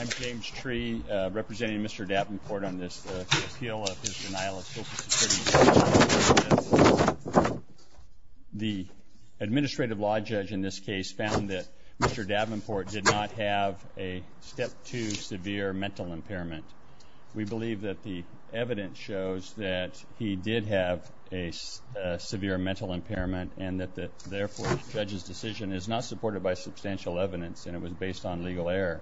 I'm James Tree, representing Mr. Davenport on this appeal of his denial of social security benefits. The administrative law judge in this case found that Mr. Davenport did not have a Step 2 severe mental impairment. We believe that the evidence shows that he did have a severe mental impairment and that therefore the judge's decision is not supported by substantial evidence and it was based on legal error.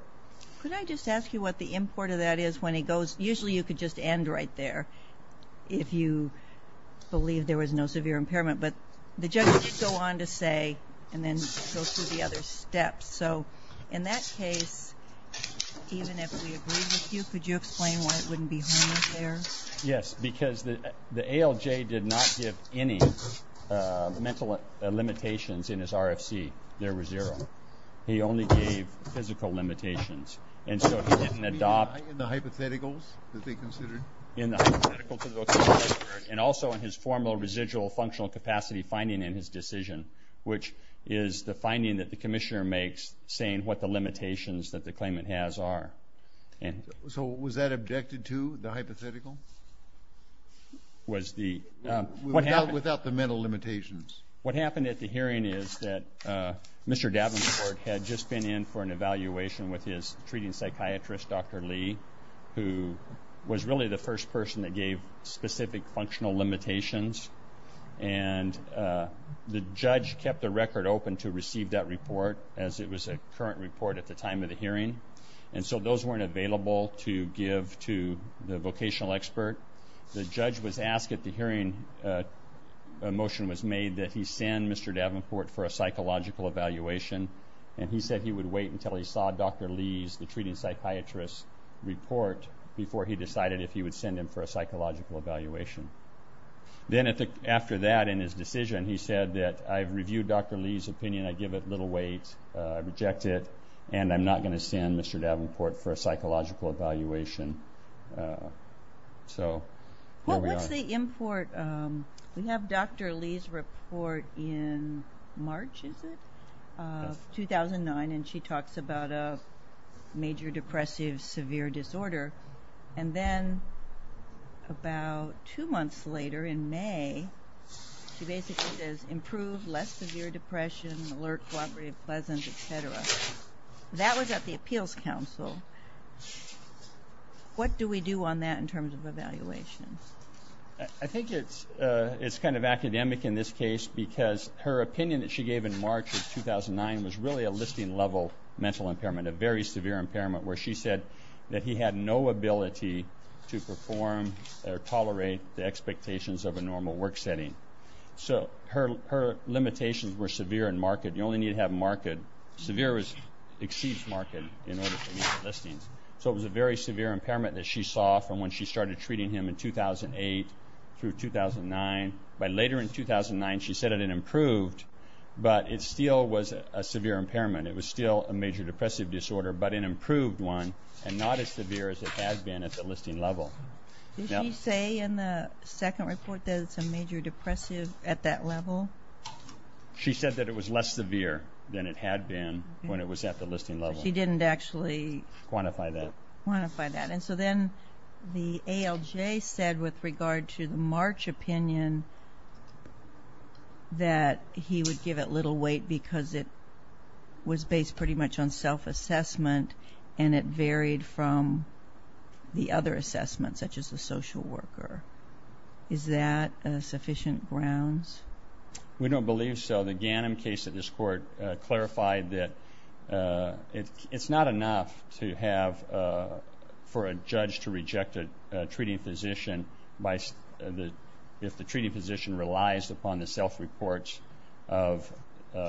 Could I just ask you what the import of that is? Usually you could just end right there if you believe there was no severe impairment, but the judge could go on to say and then go through the other steps. So in that case, even if we agreed with you, could you explain why it wouldn't be home there? Yes, because the ALJ did not give any mental limitations in his RFC. There were zero. He only gave physical limitations and so he didn't adopt... In the hypotheticals that they considered? In the hypotheticals that they considered and also in his formal residual functional capacity finding in his decision, which is the finding that the commissioner makes saying what the limitations that the claimant has are. So was that objected to, the hypothetical? Without the mental limitations. What happened at the hearing is that Mr. Davenport had just been in for an evaluation with his treating psychiatrist, Dr. Lee, who was really the first person that gave specific functional limitations and the judge kept the record open to receive that report as it was a current report at the time of the hearing. And so those weren't available to give to the vocational expert. The judge was asked at the hearing, a motion was made that he send Mr. Davenport for a psychological evaluation and he said he would wait until he saw Dr. Lee's, the treating psychiatrist's, report before he decided if he would send him for a psychological evaluation. Then after that, in his decision, he said that I've reviewed Dr. Lee's opinion, I give it little weight, I reject it, and I'm not going to send Mr. Davenport for a psychological evaluation. So here we are. Well, what's the import? We have Dr. Lee's report in March, is it? Yes. 2009, and she talks about a major depressive severe disorder. And then about two months later, in May, she basically says improved, less severe depression, alert cooperative pleasant, et cetera. That was at the appeals council. What do we do on that in terms of evaluation? I think it's kind of academic in this case because her opinion that she gave in March of 2009 was really a listing level mental impairment, a very severe impairment, where she said that he had no ability to perform or tolerate the expectations of a normal work setting. So her limitations were severe and marked. You only need to have marked. Severe exceeds marked in order to meet the listings. So it was a very severe impairment that she saw from when she started treating him in 2008 through 2009. By later in 2009, she said that it improved, but it still was a severe impairment. It was still a major depressive disorder, but an improved one and not as severe as it had been at the listing level. Did she say in the second report that it's a major depressive at that level? She said that it was less severe than it had been when it was at the listing level. She didn't actually quantify that. And so then the ALJ said with regard to the March opinion that he would give it little weight because it was based pretty much on self-assessment and it varied from the other assessments, such as the social worker. Is that sufficient grounds? We don't believe so. The Ganim case at this court clarified that it's not enough for a judge to reject a treating physician if the treating physician relies upon the self-reports of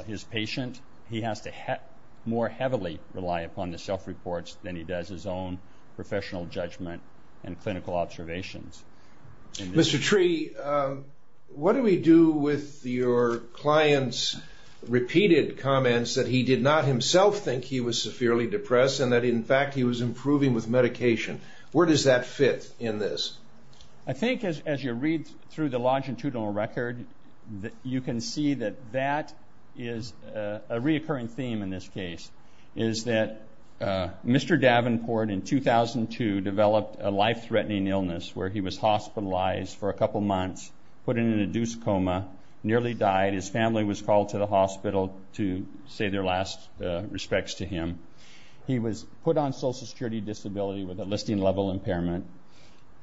his patient. He has to more heavily rely upon the self-reports than he does his own professional judgment and clinical observations. Mr. Tree, what do we do with your client's repeated comments that he did not himself think he was severely depressed and that, in fact, he was improving with medication? Where does that fit in this? I think as you read through the longitudinal record, you can see that that is a reoccurring theme in this case, is that Mr. Davenport in 2002 developed a life-threatening illness where he was hospitalized for a couple months, put in an induced coma, nearly died. His family was called to the hospital to say their last respects to him. He was put on social security disability with a listing-level impairment.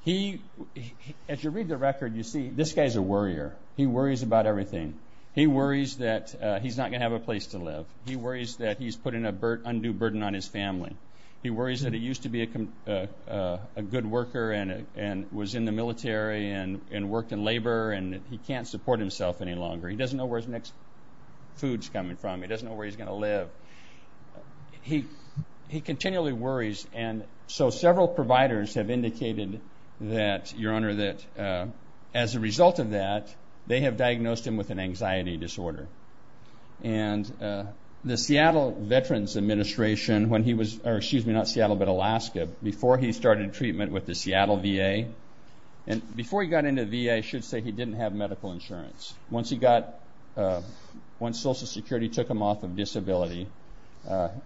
As you read the record, you see this guy's a worrier. He worries about everything. He worries that he's not going to have a place to live. He worries that he's putting an undue burden on his family. He worries that he used to be a good worker and was in the military and worked in labor, and he can't support himself any longer. He doesn't know where his next food's coming from. He doesn't know where he's going to live. He continually worries. And so several providers have indicated that, Your Honor, that as a result of that, they have diagnosed him with an anxiety disorder. And the Seattle Veterans Administration, when he was, or excuse me, not Seattle but Alaska, before he started treatment with the Seattle VA, and before he got into the VA, I should say he didn't have medical insurance. Once he got, once social security took him off of disability,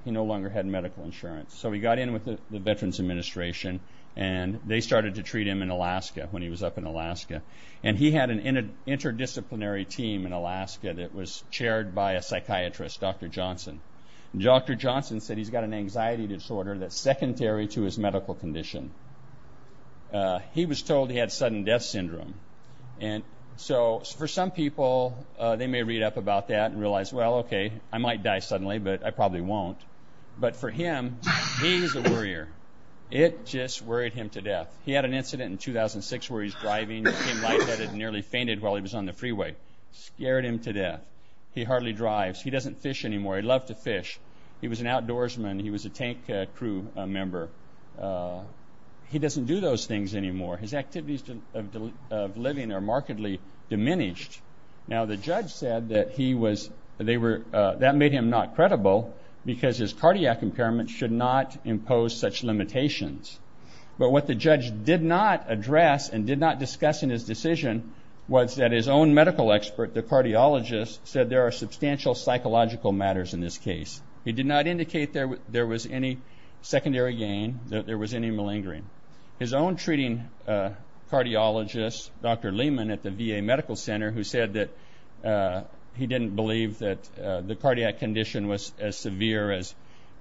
he no longer had medical insurance. So he got in with the Veterans Administration, and they started to treat him in Alaska when he was up in Alaska. And he had an interdisciplinary team in Alaska that was chaired by a psychiatrist, Dr. Johnson. Dr. Johnson said he's got an anxiety disorder that's secondary to his medical condition. He was told he had sudden death syndrome. And so for some people, they may read up about that and realize, well, okay, I might die suddenly, but I probably won't. But for him, he's a worrier. It just worried him to death. He had an incident in 2006 where he was driving, became lightheaded, and nearly fainted while he was on the freeway. Scared him to death. He hardly drives. He doesn't fish anymore. He loved to fish. He was an outdoorsman. He was a tank crew member. He doesn't do those things anymore. His activities of living are markedly diminished. Now, the judge said that he was they were that made him not credible, because his cardiac impairment should not impose such limitations. But what the judge did not address and did not discuss in his decision was that his own medical expert, the cardiologist, said there are substantial psychological matters in this case. He did not indicate there was any secondary gain, that there was any malingering. His own treating cardiologist, Dr. Lehman at the VA Medical Center, who said that he didn't believe that the cardiac condition was as severe as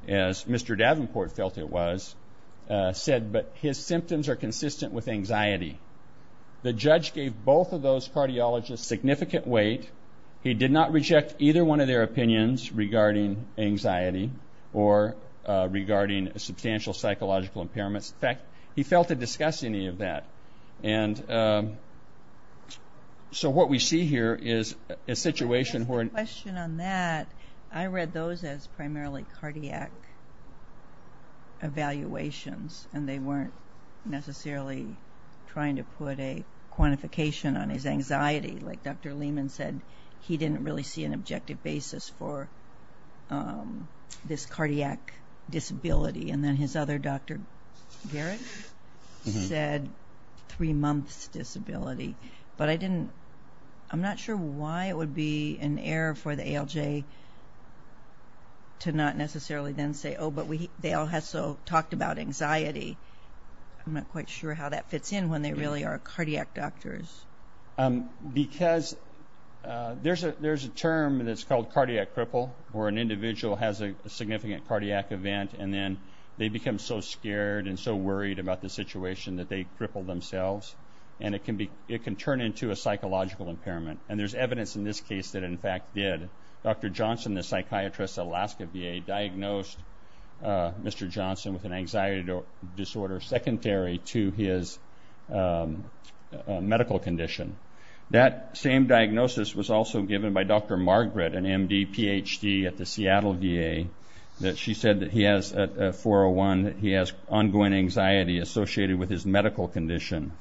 Mr. Davenport felt it was, said, but his symptoms are consistent with anxiety. The judge gave both of those cardiologists significant weight. He did not reject either one of their opinions regarding anxiety or regarding substantial psychological impairments. In fact, he failed to discuss any of that. So what we see here is a situation where an- I have a question on that. I read those as primarily cardiac evaluations, and they weren't necessarily trying to put a quantification on his anxiety. Like Dr. Lehman said, he didn't really see an objective basis for this cardiac disability. And then his other doctor, Garrett, said three months' disability. But I didn't-I'm not sure why it would be an error for the ALJ to not necessarily then say, oh, but they all talked about anxiety. I'm not quite sure how that fits in when they really are cardiac doctors. Because there's a term that's called cardiac cripple, where an individual has a significant cardiac event, and then they become so scared and so worried about the situation that they cripple themselves. And it can turn into a psychological impairment. And there's evidence in this case that it in fact did. Dr. Johnson, the psychiatrist at Alaska VA, diagnosed Mr. Johnson with an anxiety disorder secondary to his medical condition. That same diagnosis was also given by Dr. Margaret, an MD PhD at the Seattle VA. She said that he has 401, that he has ongoing anxiety associated with his medical condition.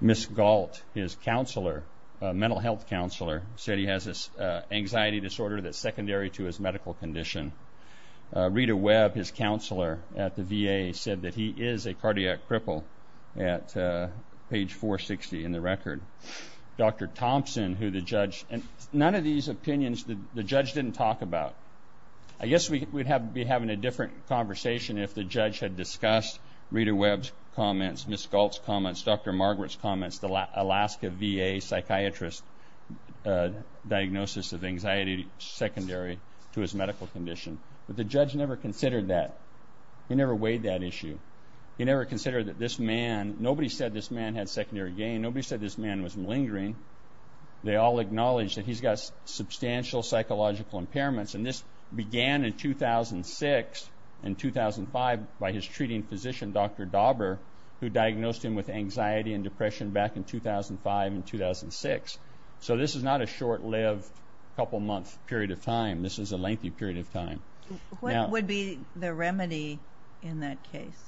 Ms. Galt, his counselor, mental health counselor, said he has this anxiety disorder that's secondary to his medical condition. Rita Webb, his counselor at the VA, said that he is a cardiac cripple at page 460 in the record. Dr. Thompson, who the judge-and none of these opinions the judge didn't talk about. I guess we'd be having a different conversation if the judge had discussed Rita Webb's comments, Ms. Galt's comments, Dr. Margaret's comments, Alaska VA psychiatrist's diagnosis of anxiety secondary to his medical condition. But the judge never considered that. He never weighed that issue. He never considered that this man, nobody said this man had secondary gain. Nobody said this man was malingering. They all acknowledged that he's got substantial psychological impairments. And this began in 2006 and 2005 by his treating physician, Dr. Dauber, who diagnosed him with anxiety and depression back in 2005 and 2006. So this is not a short-lived couple-month period of time. This is a lengthy period of time. What would be the remedy in that case?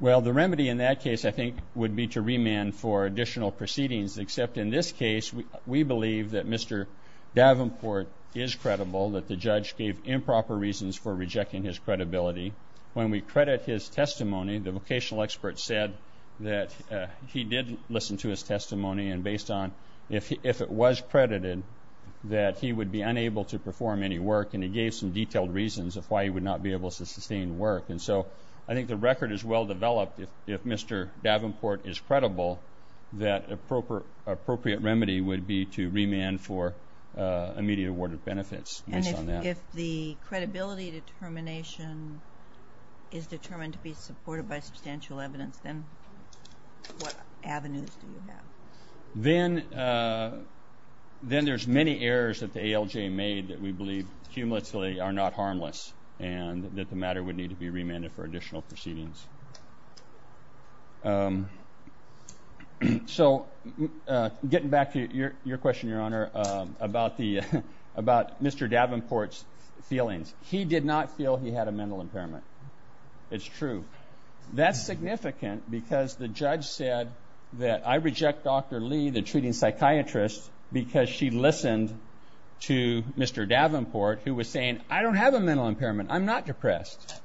Well, the remedy in that case, I think, would be to remand for additional proceedings, except in this case we believe that Mr. Davenport is credible, that the judge gave improper reasons for rejecting his credibility. When we credit his testimony, the vocational expert said that he did listen to his testimony, and based on if it was credited that he would be unable to perform any work, and he gave some detailed reasons of why he would not be able to sustain work. And so I think the record is well-developed. If Mr. Davenport is credible, that appropriate remedy would be to remand for immediate awarded benefits based on that. If the credibility determination is determined to be supported by substantial evidence, then what avenues do you have? Then there's many errors that the ALJ made that we believe cumulatively are not harmless and that the matter would need to be remanded for additional proceedings. So getting back to your question, Your Honor, about Mr. Davenport's feelings, he did not feel he had a mental impairment. It's true. That's significant because the judge said that I reject Dr. Lee, the treating psychiatrist, because she listened to Mr. Davenport, who was saying, I don't have a mental impairment, I'm not depressed.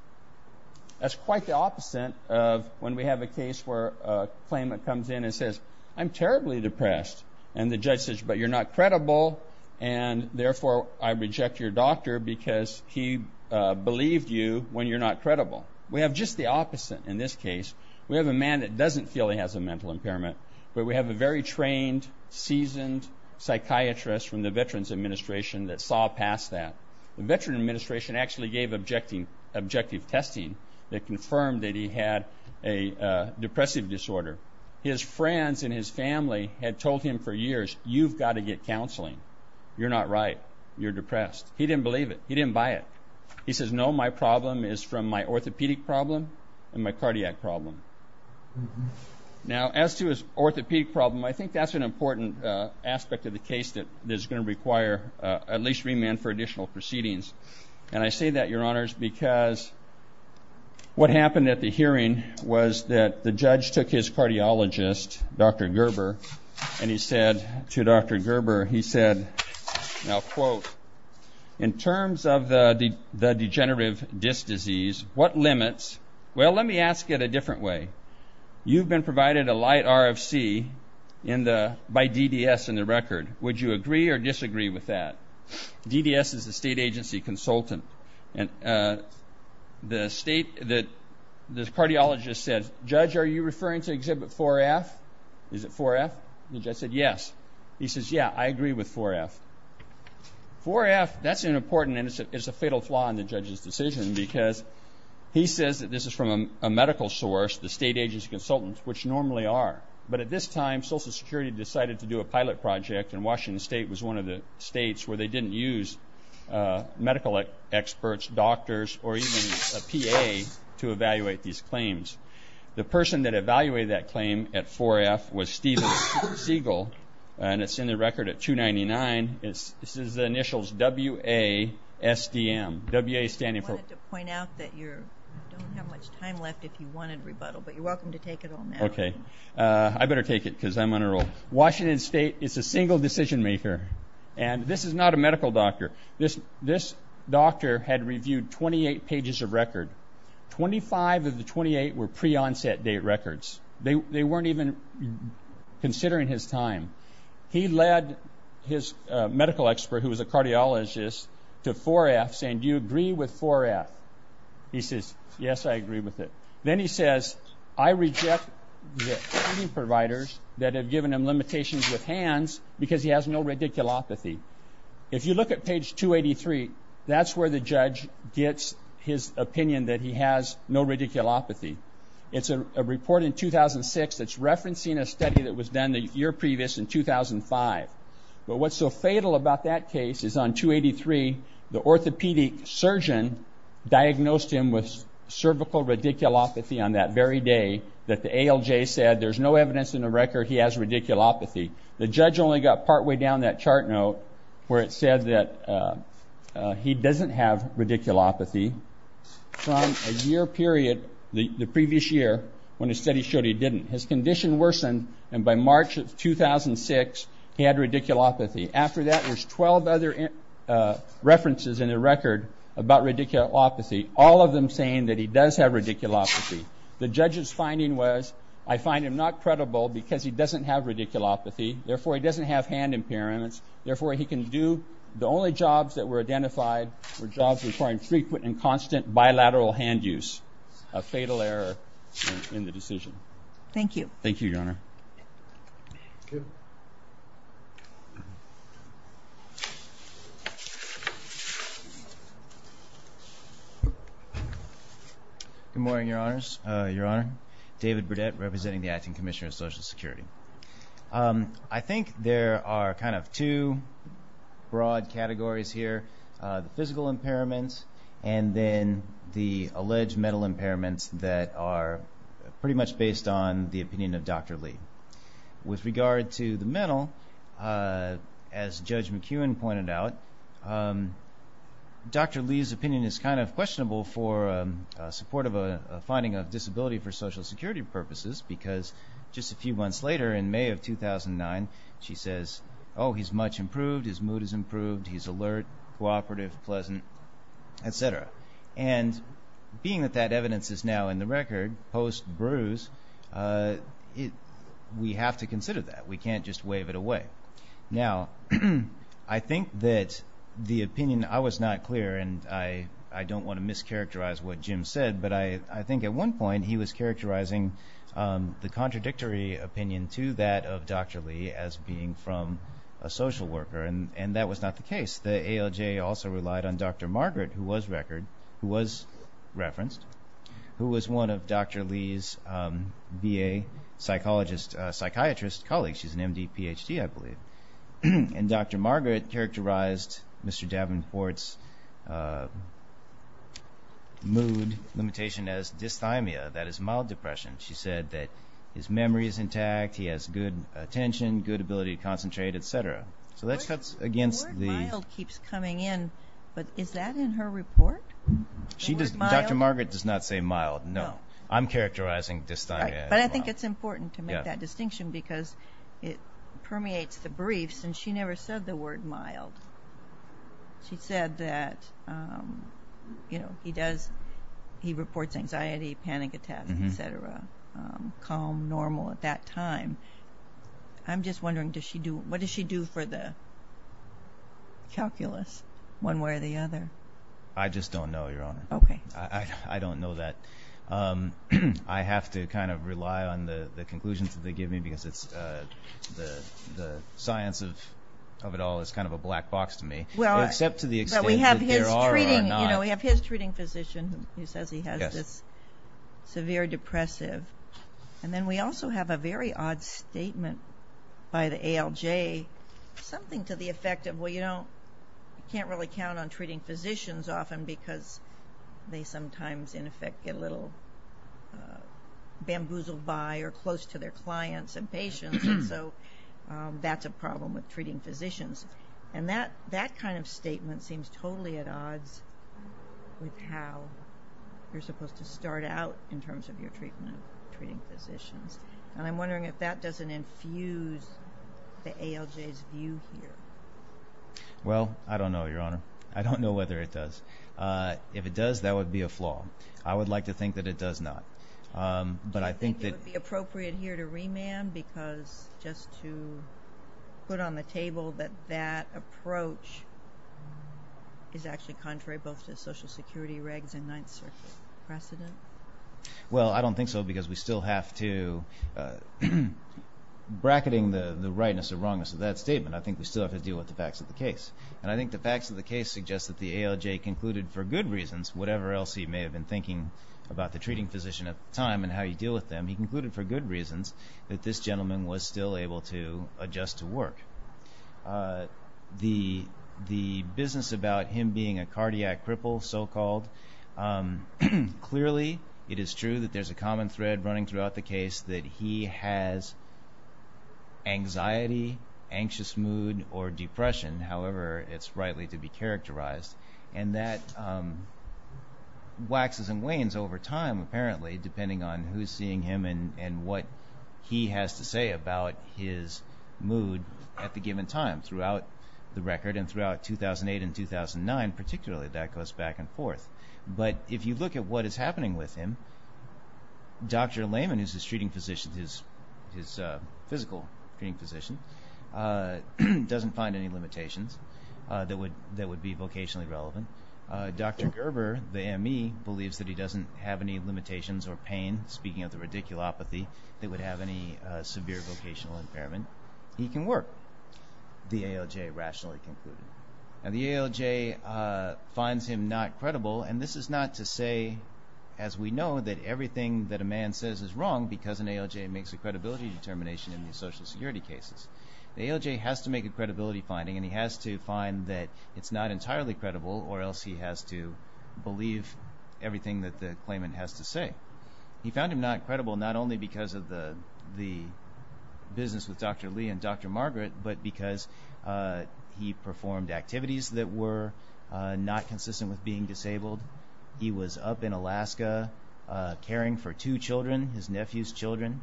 That's quite the opposite of when we have a case where a claimant comes in and says, I'm terribly depressed, and the judge says, but you're not credible, and therefore I reject your doctor because he believed you when you're not credible. We have just the opposite in this case. We have a man that doesn't feel he has a mental impairment, but we have a very trained, seasoned psychiatrist from the Veterans Administration that saw past that. The Veterans Administration actually gave objective testing that confirmed that he had a depressive disorder. His friends and his family had told him for years, you've got to get counseling. You're not right. You're depressed. He didn't believe it. He didn't buy it. He says, no, my problem is from my orthopedic problem and my cardiac problem. Now, as to his orthopedic problem, I think that's an important aspect of the case that is going to require at least remand for additional proceedings. And I say that, Your Honors, because what happened at the hearing was that the judge took his cardiologist, Dr. Gerber, and he said to Dr. Gerber, he said, now, quote, in terms of the degenerative disc disease, what limits? Well, let me ask it a different way. You've been provided a light RFC by DDS in the record. Would you agree or disagree with that? DDS is a state agency consultant. And the state, the cardiologist said, Judge, are you referring to exhibit 4F? Is it 4F? The judge said, yes. He says, yeah, I agree with 4F. 4F, that's an important, and it's a fatal flaw in the judge's decision, because he says that this is from a medical source, the state agency consultants, which normally are. But at this time, Social Security decided to do a pilot project, and Washington State was one of the states where they didn't use medical experts, doctors, or even a PA to evaluate these claims. The person that evaluated that claim at 4F was Steven Siegel, and it's in the record at 299. This is the initials WASDM. I wanted to point out that you don't have much time left if you wanted to rebuttal, but you're welcome to take it on now. Okay. I better take it, because I'm on a roll. Washington State is a single decision maker, and this is not a medical doctor. This doctor had reviewed 28 pages of record. Twenty-five of the 28 were pre-onset date records. They weren't even considering his time. He led his medical expert, who was a cardiologist, to 4F, saying, do you agree with 4F? He says, yes, I agree with it. Then he says, I reject the providers that have given him limitations with hands because he has no radiculopathy. If you look at page 283, that's where the judge gets his opinion that he has no radiculopathy. It's a report in 2006 that's referencing a study that was done the year previous in 2005. But what's so fatal about that case is on 283, the orthopedic surgeon diagnosed him with cervical radiculopathy on that very day that the ALJ said there's no evidence in the record he has radiculopathy. The judge only got partway down that chart note where it said that he doesn't have radiculopathy from a year period the previous year when a study showed he didn't. His condition worsened, and by March of 2006, he had radiculopathy. After that, there's 12 other references in the record about radiculopathy, all of them saying that he does have radiculopathy. The judge's finding was, I find him not credible because he doesn't have radiculopathy. Therefore, he doesn't have hand impairments. Therefore, he can do the only jobs that were identified were jobs requiring frequent and constant bilateral hand use, a fatal error in the decision. Thank you. Thank you, Your Honor. Good morning, Your Honors. Your Honor, David Burdett, representing the Acting Commissioner of Social Security. I think there are kind of two broad categories here. The physical impairments and then the alleged mental impairments that are pretty much based on the opinion of Dr. Lee. With regard to the mental, as Judge McEwen pointed out, Dr. Lee's opinion is kind of questionable for support of a finding of disability for Social Security purposes because just a few months later in May of 2009, she says, oh, he's much improved, his mood is improved, he's alert, cooperative, pleasant, et cetera. And being that that evidence is now in the record post-bruise, we have to consider that. We can't just wave it away. Now, I think that the opinion, I was not clear, and I don't want to mischaracterize what Jim said, but I think at one point he was characterizing the contradictory opinion to that of Dr. Lee as being from a social worker, and that was not the case. The ALJ also relied on Dr. Margaret, who was referenced, who was one of Dr. Lee's BA psychologist, psychiatrist colleagues. She's an MD, PhD, I believe. And Dr. Margaret characterized Mr. Davenport's mood limitation as dysthymia, that is mild depression. She said that his memory is intact, he has good attention, good ability to concentrate, et cetera. The word mild keeps coming in, but is that in her report? Dr. Margaret does not say mild, no. I'm characterizing dysthymia as mild. But I think it's important to make that distinction because it permeates the briefs, and she never said the word mild. She said that he reports anxiety, panic attacks, et cetera, calm, normal at that time. I'm just wondering, what does she do for the calculus, one way or the other? I just don't know, Your Honor. Okay. I don't know that. I have to kind of rely on the conclusions that they give me because the science of it all is kind of a black box to me, except to the extent that there are or are not. We have his treating physician who says he has this severe depressive. And then we also have a very odd statement by the ALJ, something to the effect of, well, you can't really count on treating physicians often because they sometimes, in effect, get a little bamboozled by or close to their clients and patients, and so that's a problem with treating physicians. And that kind of statement seems totally at odds with how you're supposed to start out in terms of your treatment, treating physicians. And I'm wondering if that doesn't infuse the ALJ's view here. Well, I don't know, Your Honor. I don't know whether it does. If it does, that would be a flaw. I would like to think that it does not. Do you think it would be appropriate here to remand because just to put on the table that that approach is actually contrary both to the Social Security regs and Ninth Circuit precedent? Well, I don't think so because we still have to, bracketing the rightness or wrongness of that statement, I think we still have to deal with the facts of the case. And I think the facts of the case suggest that the ALJ concluded for good reasons, whatever else he may have been thinking about the treating physician at the time and how you deal with them, he concluded for good reasons that this gentleman was still able to adjust to work. The business about him being a cardiac cripple, so-called, clearly it is true that there's a common thread running throughout the case that he has anxiety, anxious mood, or depression. However, it's rightly to be characterized. And that waxes and wanes over time, apparently, depending on who's seeing him and what he has to say about his mood at the given time throughout the record. And throughout 2008 and 2009, particularly, that goes back and forth. But if you look at what is happening with him, Dr. Lehman, who's his treating physician, his physical treating physician, doesn't find any limitations that would be vocationally relevant. Dr. Gerber, the ME, believes that he doesn't have any limitations or pain, speaking of the radiculopathy, that would have any severe vocational impairment. He can work, the ALJ rationally concluded. And the ALJ finds him not credible. And this is not to say, as we know, that everything that a man says is wrong because an ALJ makes a credibility determination in these social security cases. The ALJ has to make a credibility finding, and he has to find that it's not entirely credible, or else he has to believe everything that the claimant has to say. He found him not credible not only because of the business with Dr. Lee and Dr. Margaret, but because he performed activities that were not consistent with being disabled. He was up in Alaska caring for two children, his nephew's children.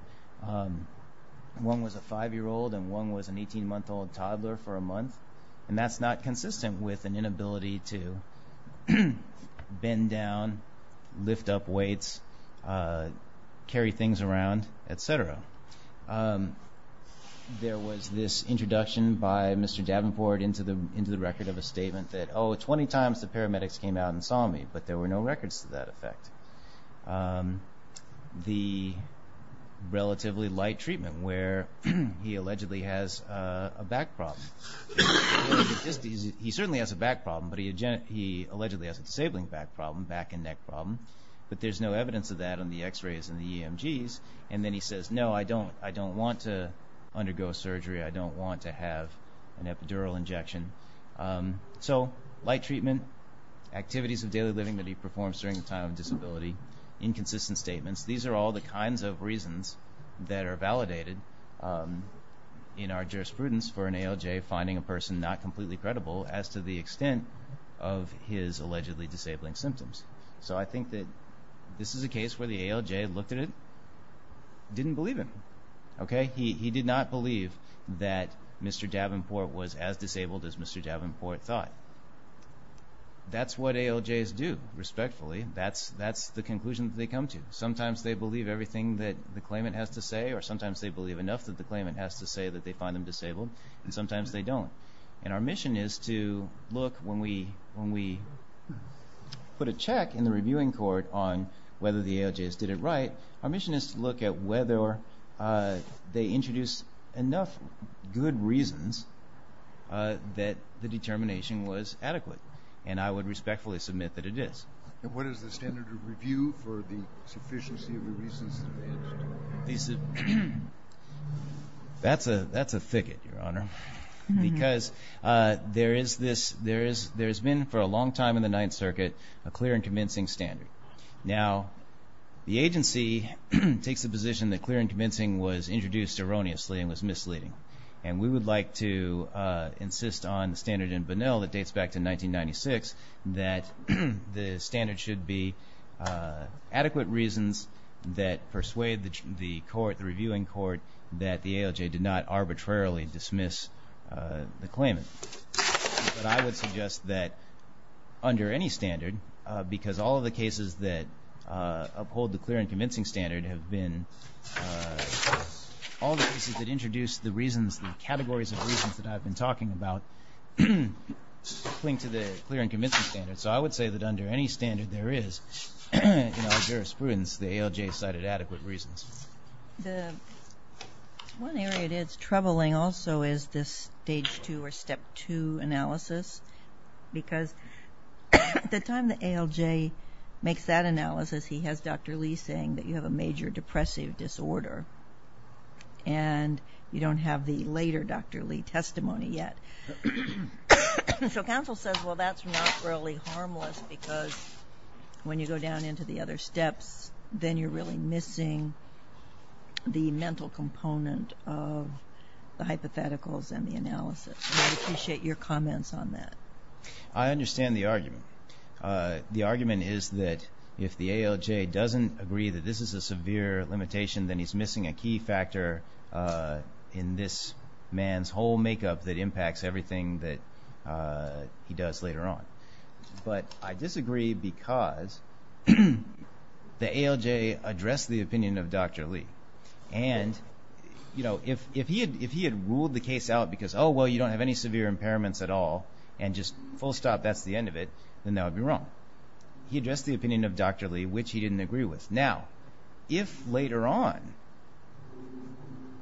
One was a 5-year-old, and one was an 18-month-old toddler for a month. And that's not consistent with an inability to bend down, lift up weights, carry things around, et cetera. There was this introduction by Mr. Davenport into the record of a statement that, oh, 20 times the paramedics came out and saw me, but there were no records to that effect. The relatively light treatment where he allegedly has a back problem. He certainly has a back problem, but he allegedly has a disabling back problem, back and neck problem. But there's no evidence of that on the X-rays and the EMGs. And then he says, no, I don't want to undergo surgery. I don't want to have an epidural injection. So light treatment, activities of daily living that he performs during the time of disability, inconsistent statements, these are all the kinds of reasons that are validated in our jurisprudence for an ALJ finding a person not completely credible as to the extent of his allegedly disabling symptoms. So I think that this is a case where the ALJ looked at it, didn't believe him. He did not believe that Mr. Davenport was as disabled as Mr. Davenport thought. That's what ALJs do, respectfully. That's the conclusion that they come to. Sometimes they believe everything that the claimant has to say, or sometimes they believe enough that the claimant has to say that they find them disabled, and sometimes they don't. And our mission is to look when we put a check in the reviewing court on whether the ALJs did it right, our mission is to look at whether they introduced enough good reasons that the determination was adequate. And I would respectfully submit that it is. And what is the standard of review for the sufficiency of the reasons that they introduced? That's a thicket, Your Honor, because there has been for a long time in the Ninth Circuit a clear and convincing standard. Now, the agency takes the position that clear and convincing was introduced erroneously and was misleading. And we would like to insist on the standard in Bunnell that dates back to 1996, that the standard should be adequate reasons that persuade the court, the reviewing court, that the ALJ did not arbitrarily dismiss the claimant. But I would suggest that under any standard, because all of the cases that uphold the clear and convincing standard have been, all the cases that introduce the reasons, the categories of reasons that I've been talking about, cling to the clear and convincing standard. So I would say that under any standard there is, in all jurisprudence, the ALJ cited adequate reasons. The one area that's troubling also is this Stage 2 or Step 2 analysis, because the time the ALJ makes that analysis, he has Dr. Lee saying that you have a major depressive disorder, and you don't have the later Dr. Lee testimony yet. So counsel says, well, that's not really harmless because when you go down into the other steps, then you're really missing the mental component of the hypotheticals and the analysis. And I'd appreciate your comments on that. I understand the argument. The argument is that if the ALJ doesn't agree that this is a severe limitation, then he's missing a key factor in this man's whole makeup that impacts everything that he does later on. But I disagree because the ALJ addressed the opinion of Dr. Lee. And, you know, if he had ruled the case out because, oh, well, you don't have any severe impairments at all, and just full stop, that's the end of it, then that would be wrong. He addressed the opinion of Dr. Lee, which he didn't agree with. Now, if later on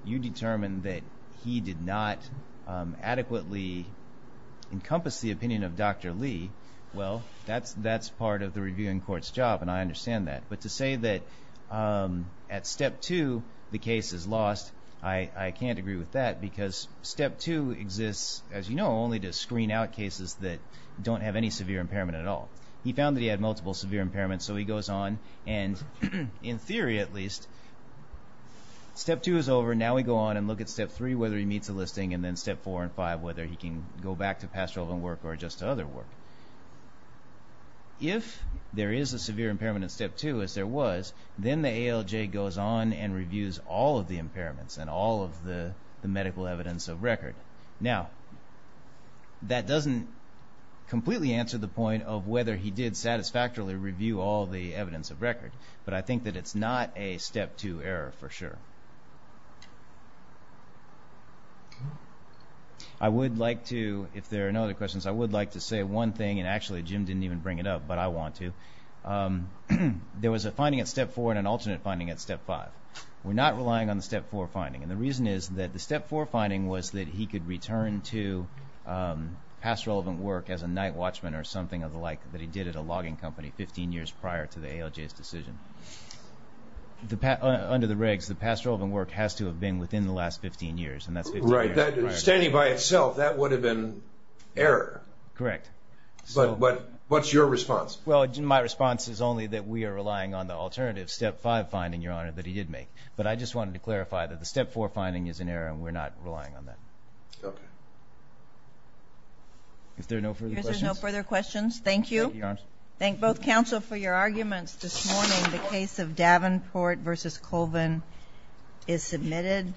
you determine that he did not adequately encompass the opinion of Dr. Lee, well, that's part of the reviewing court's job, and I understand that. But to say that at Step 2 the case is lost, I can't agree with that, because Step 2 exists, as you know, only to screen out cases that don't have any severe impairment at all. He found that he had multiple severe impairments, so he goes on and, in theory at least, Step 2 is over, now we go on and look at Step 3, whether he meets the listing, and then Step 4 and 5, whether he can go back to pastoral work or just to other work. If there is a severe impairment in Step 2, as there was, then the ALJ goes on and reviews all of the impairments and all of the medical evidence of record. Now, that doesn't completely answer the point of whether he did satisfactorily review all the evidence of record, but I think that it's not a Step 2 error for sure. I would like to, if there are no other questions, I would like to say one thing, and actually Jim didn't even bring it up, but I want to. There was a finding at Step 4 and an alternate finding at Step 5. We're not relying on the Step 4 finding, and the reason is that the Step 4 finding was that he could return to pastoral work as a night watchman or something of the like that he did at a logging company 15 years prior to the ALJ's decision. Under the regs, the pastoral work has to have been within the last 15 years, and that's 15 years prior. Right, standing by itself, that would have been error. Correct. But what's your response? Well, my response is only that we are relying on the alternative Step 5 finding, Your Honor, that he did make. But I just wanted to clarify that the Step 4 finding is an error, and we're not relying on that. Okay. Is there no further questions? There's no further questions. Thank you. Thank you, Your Honor. Thank both counsel for your arguments this morning. The case of Davenport v. Colvin is submitted.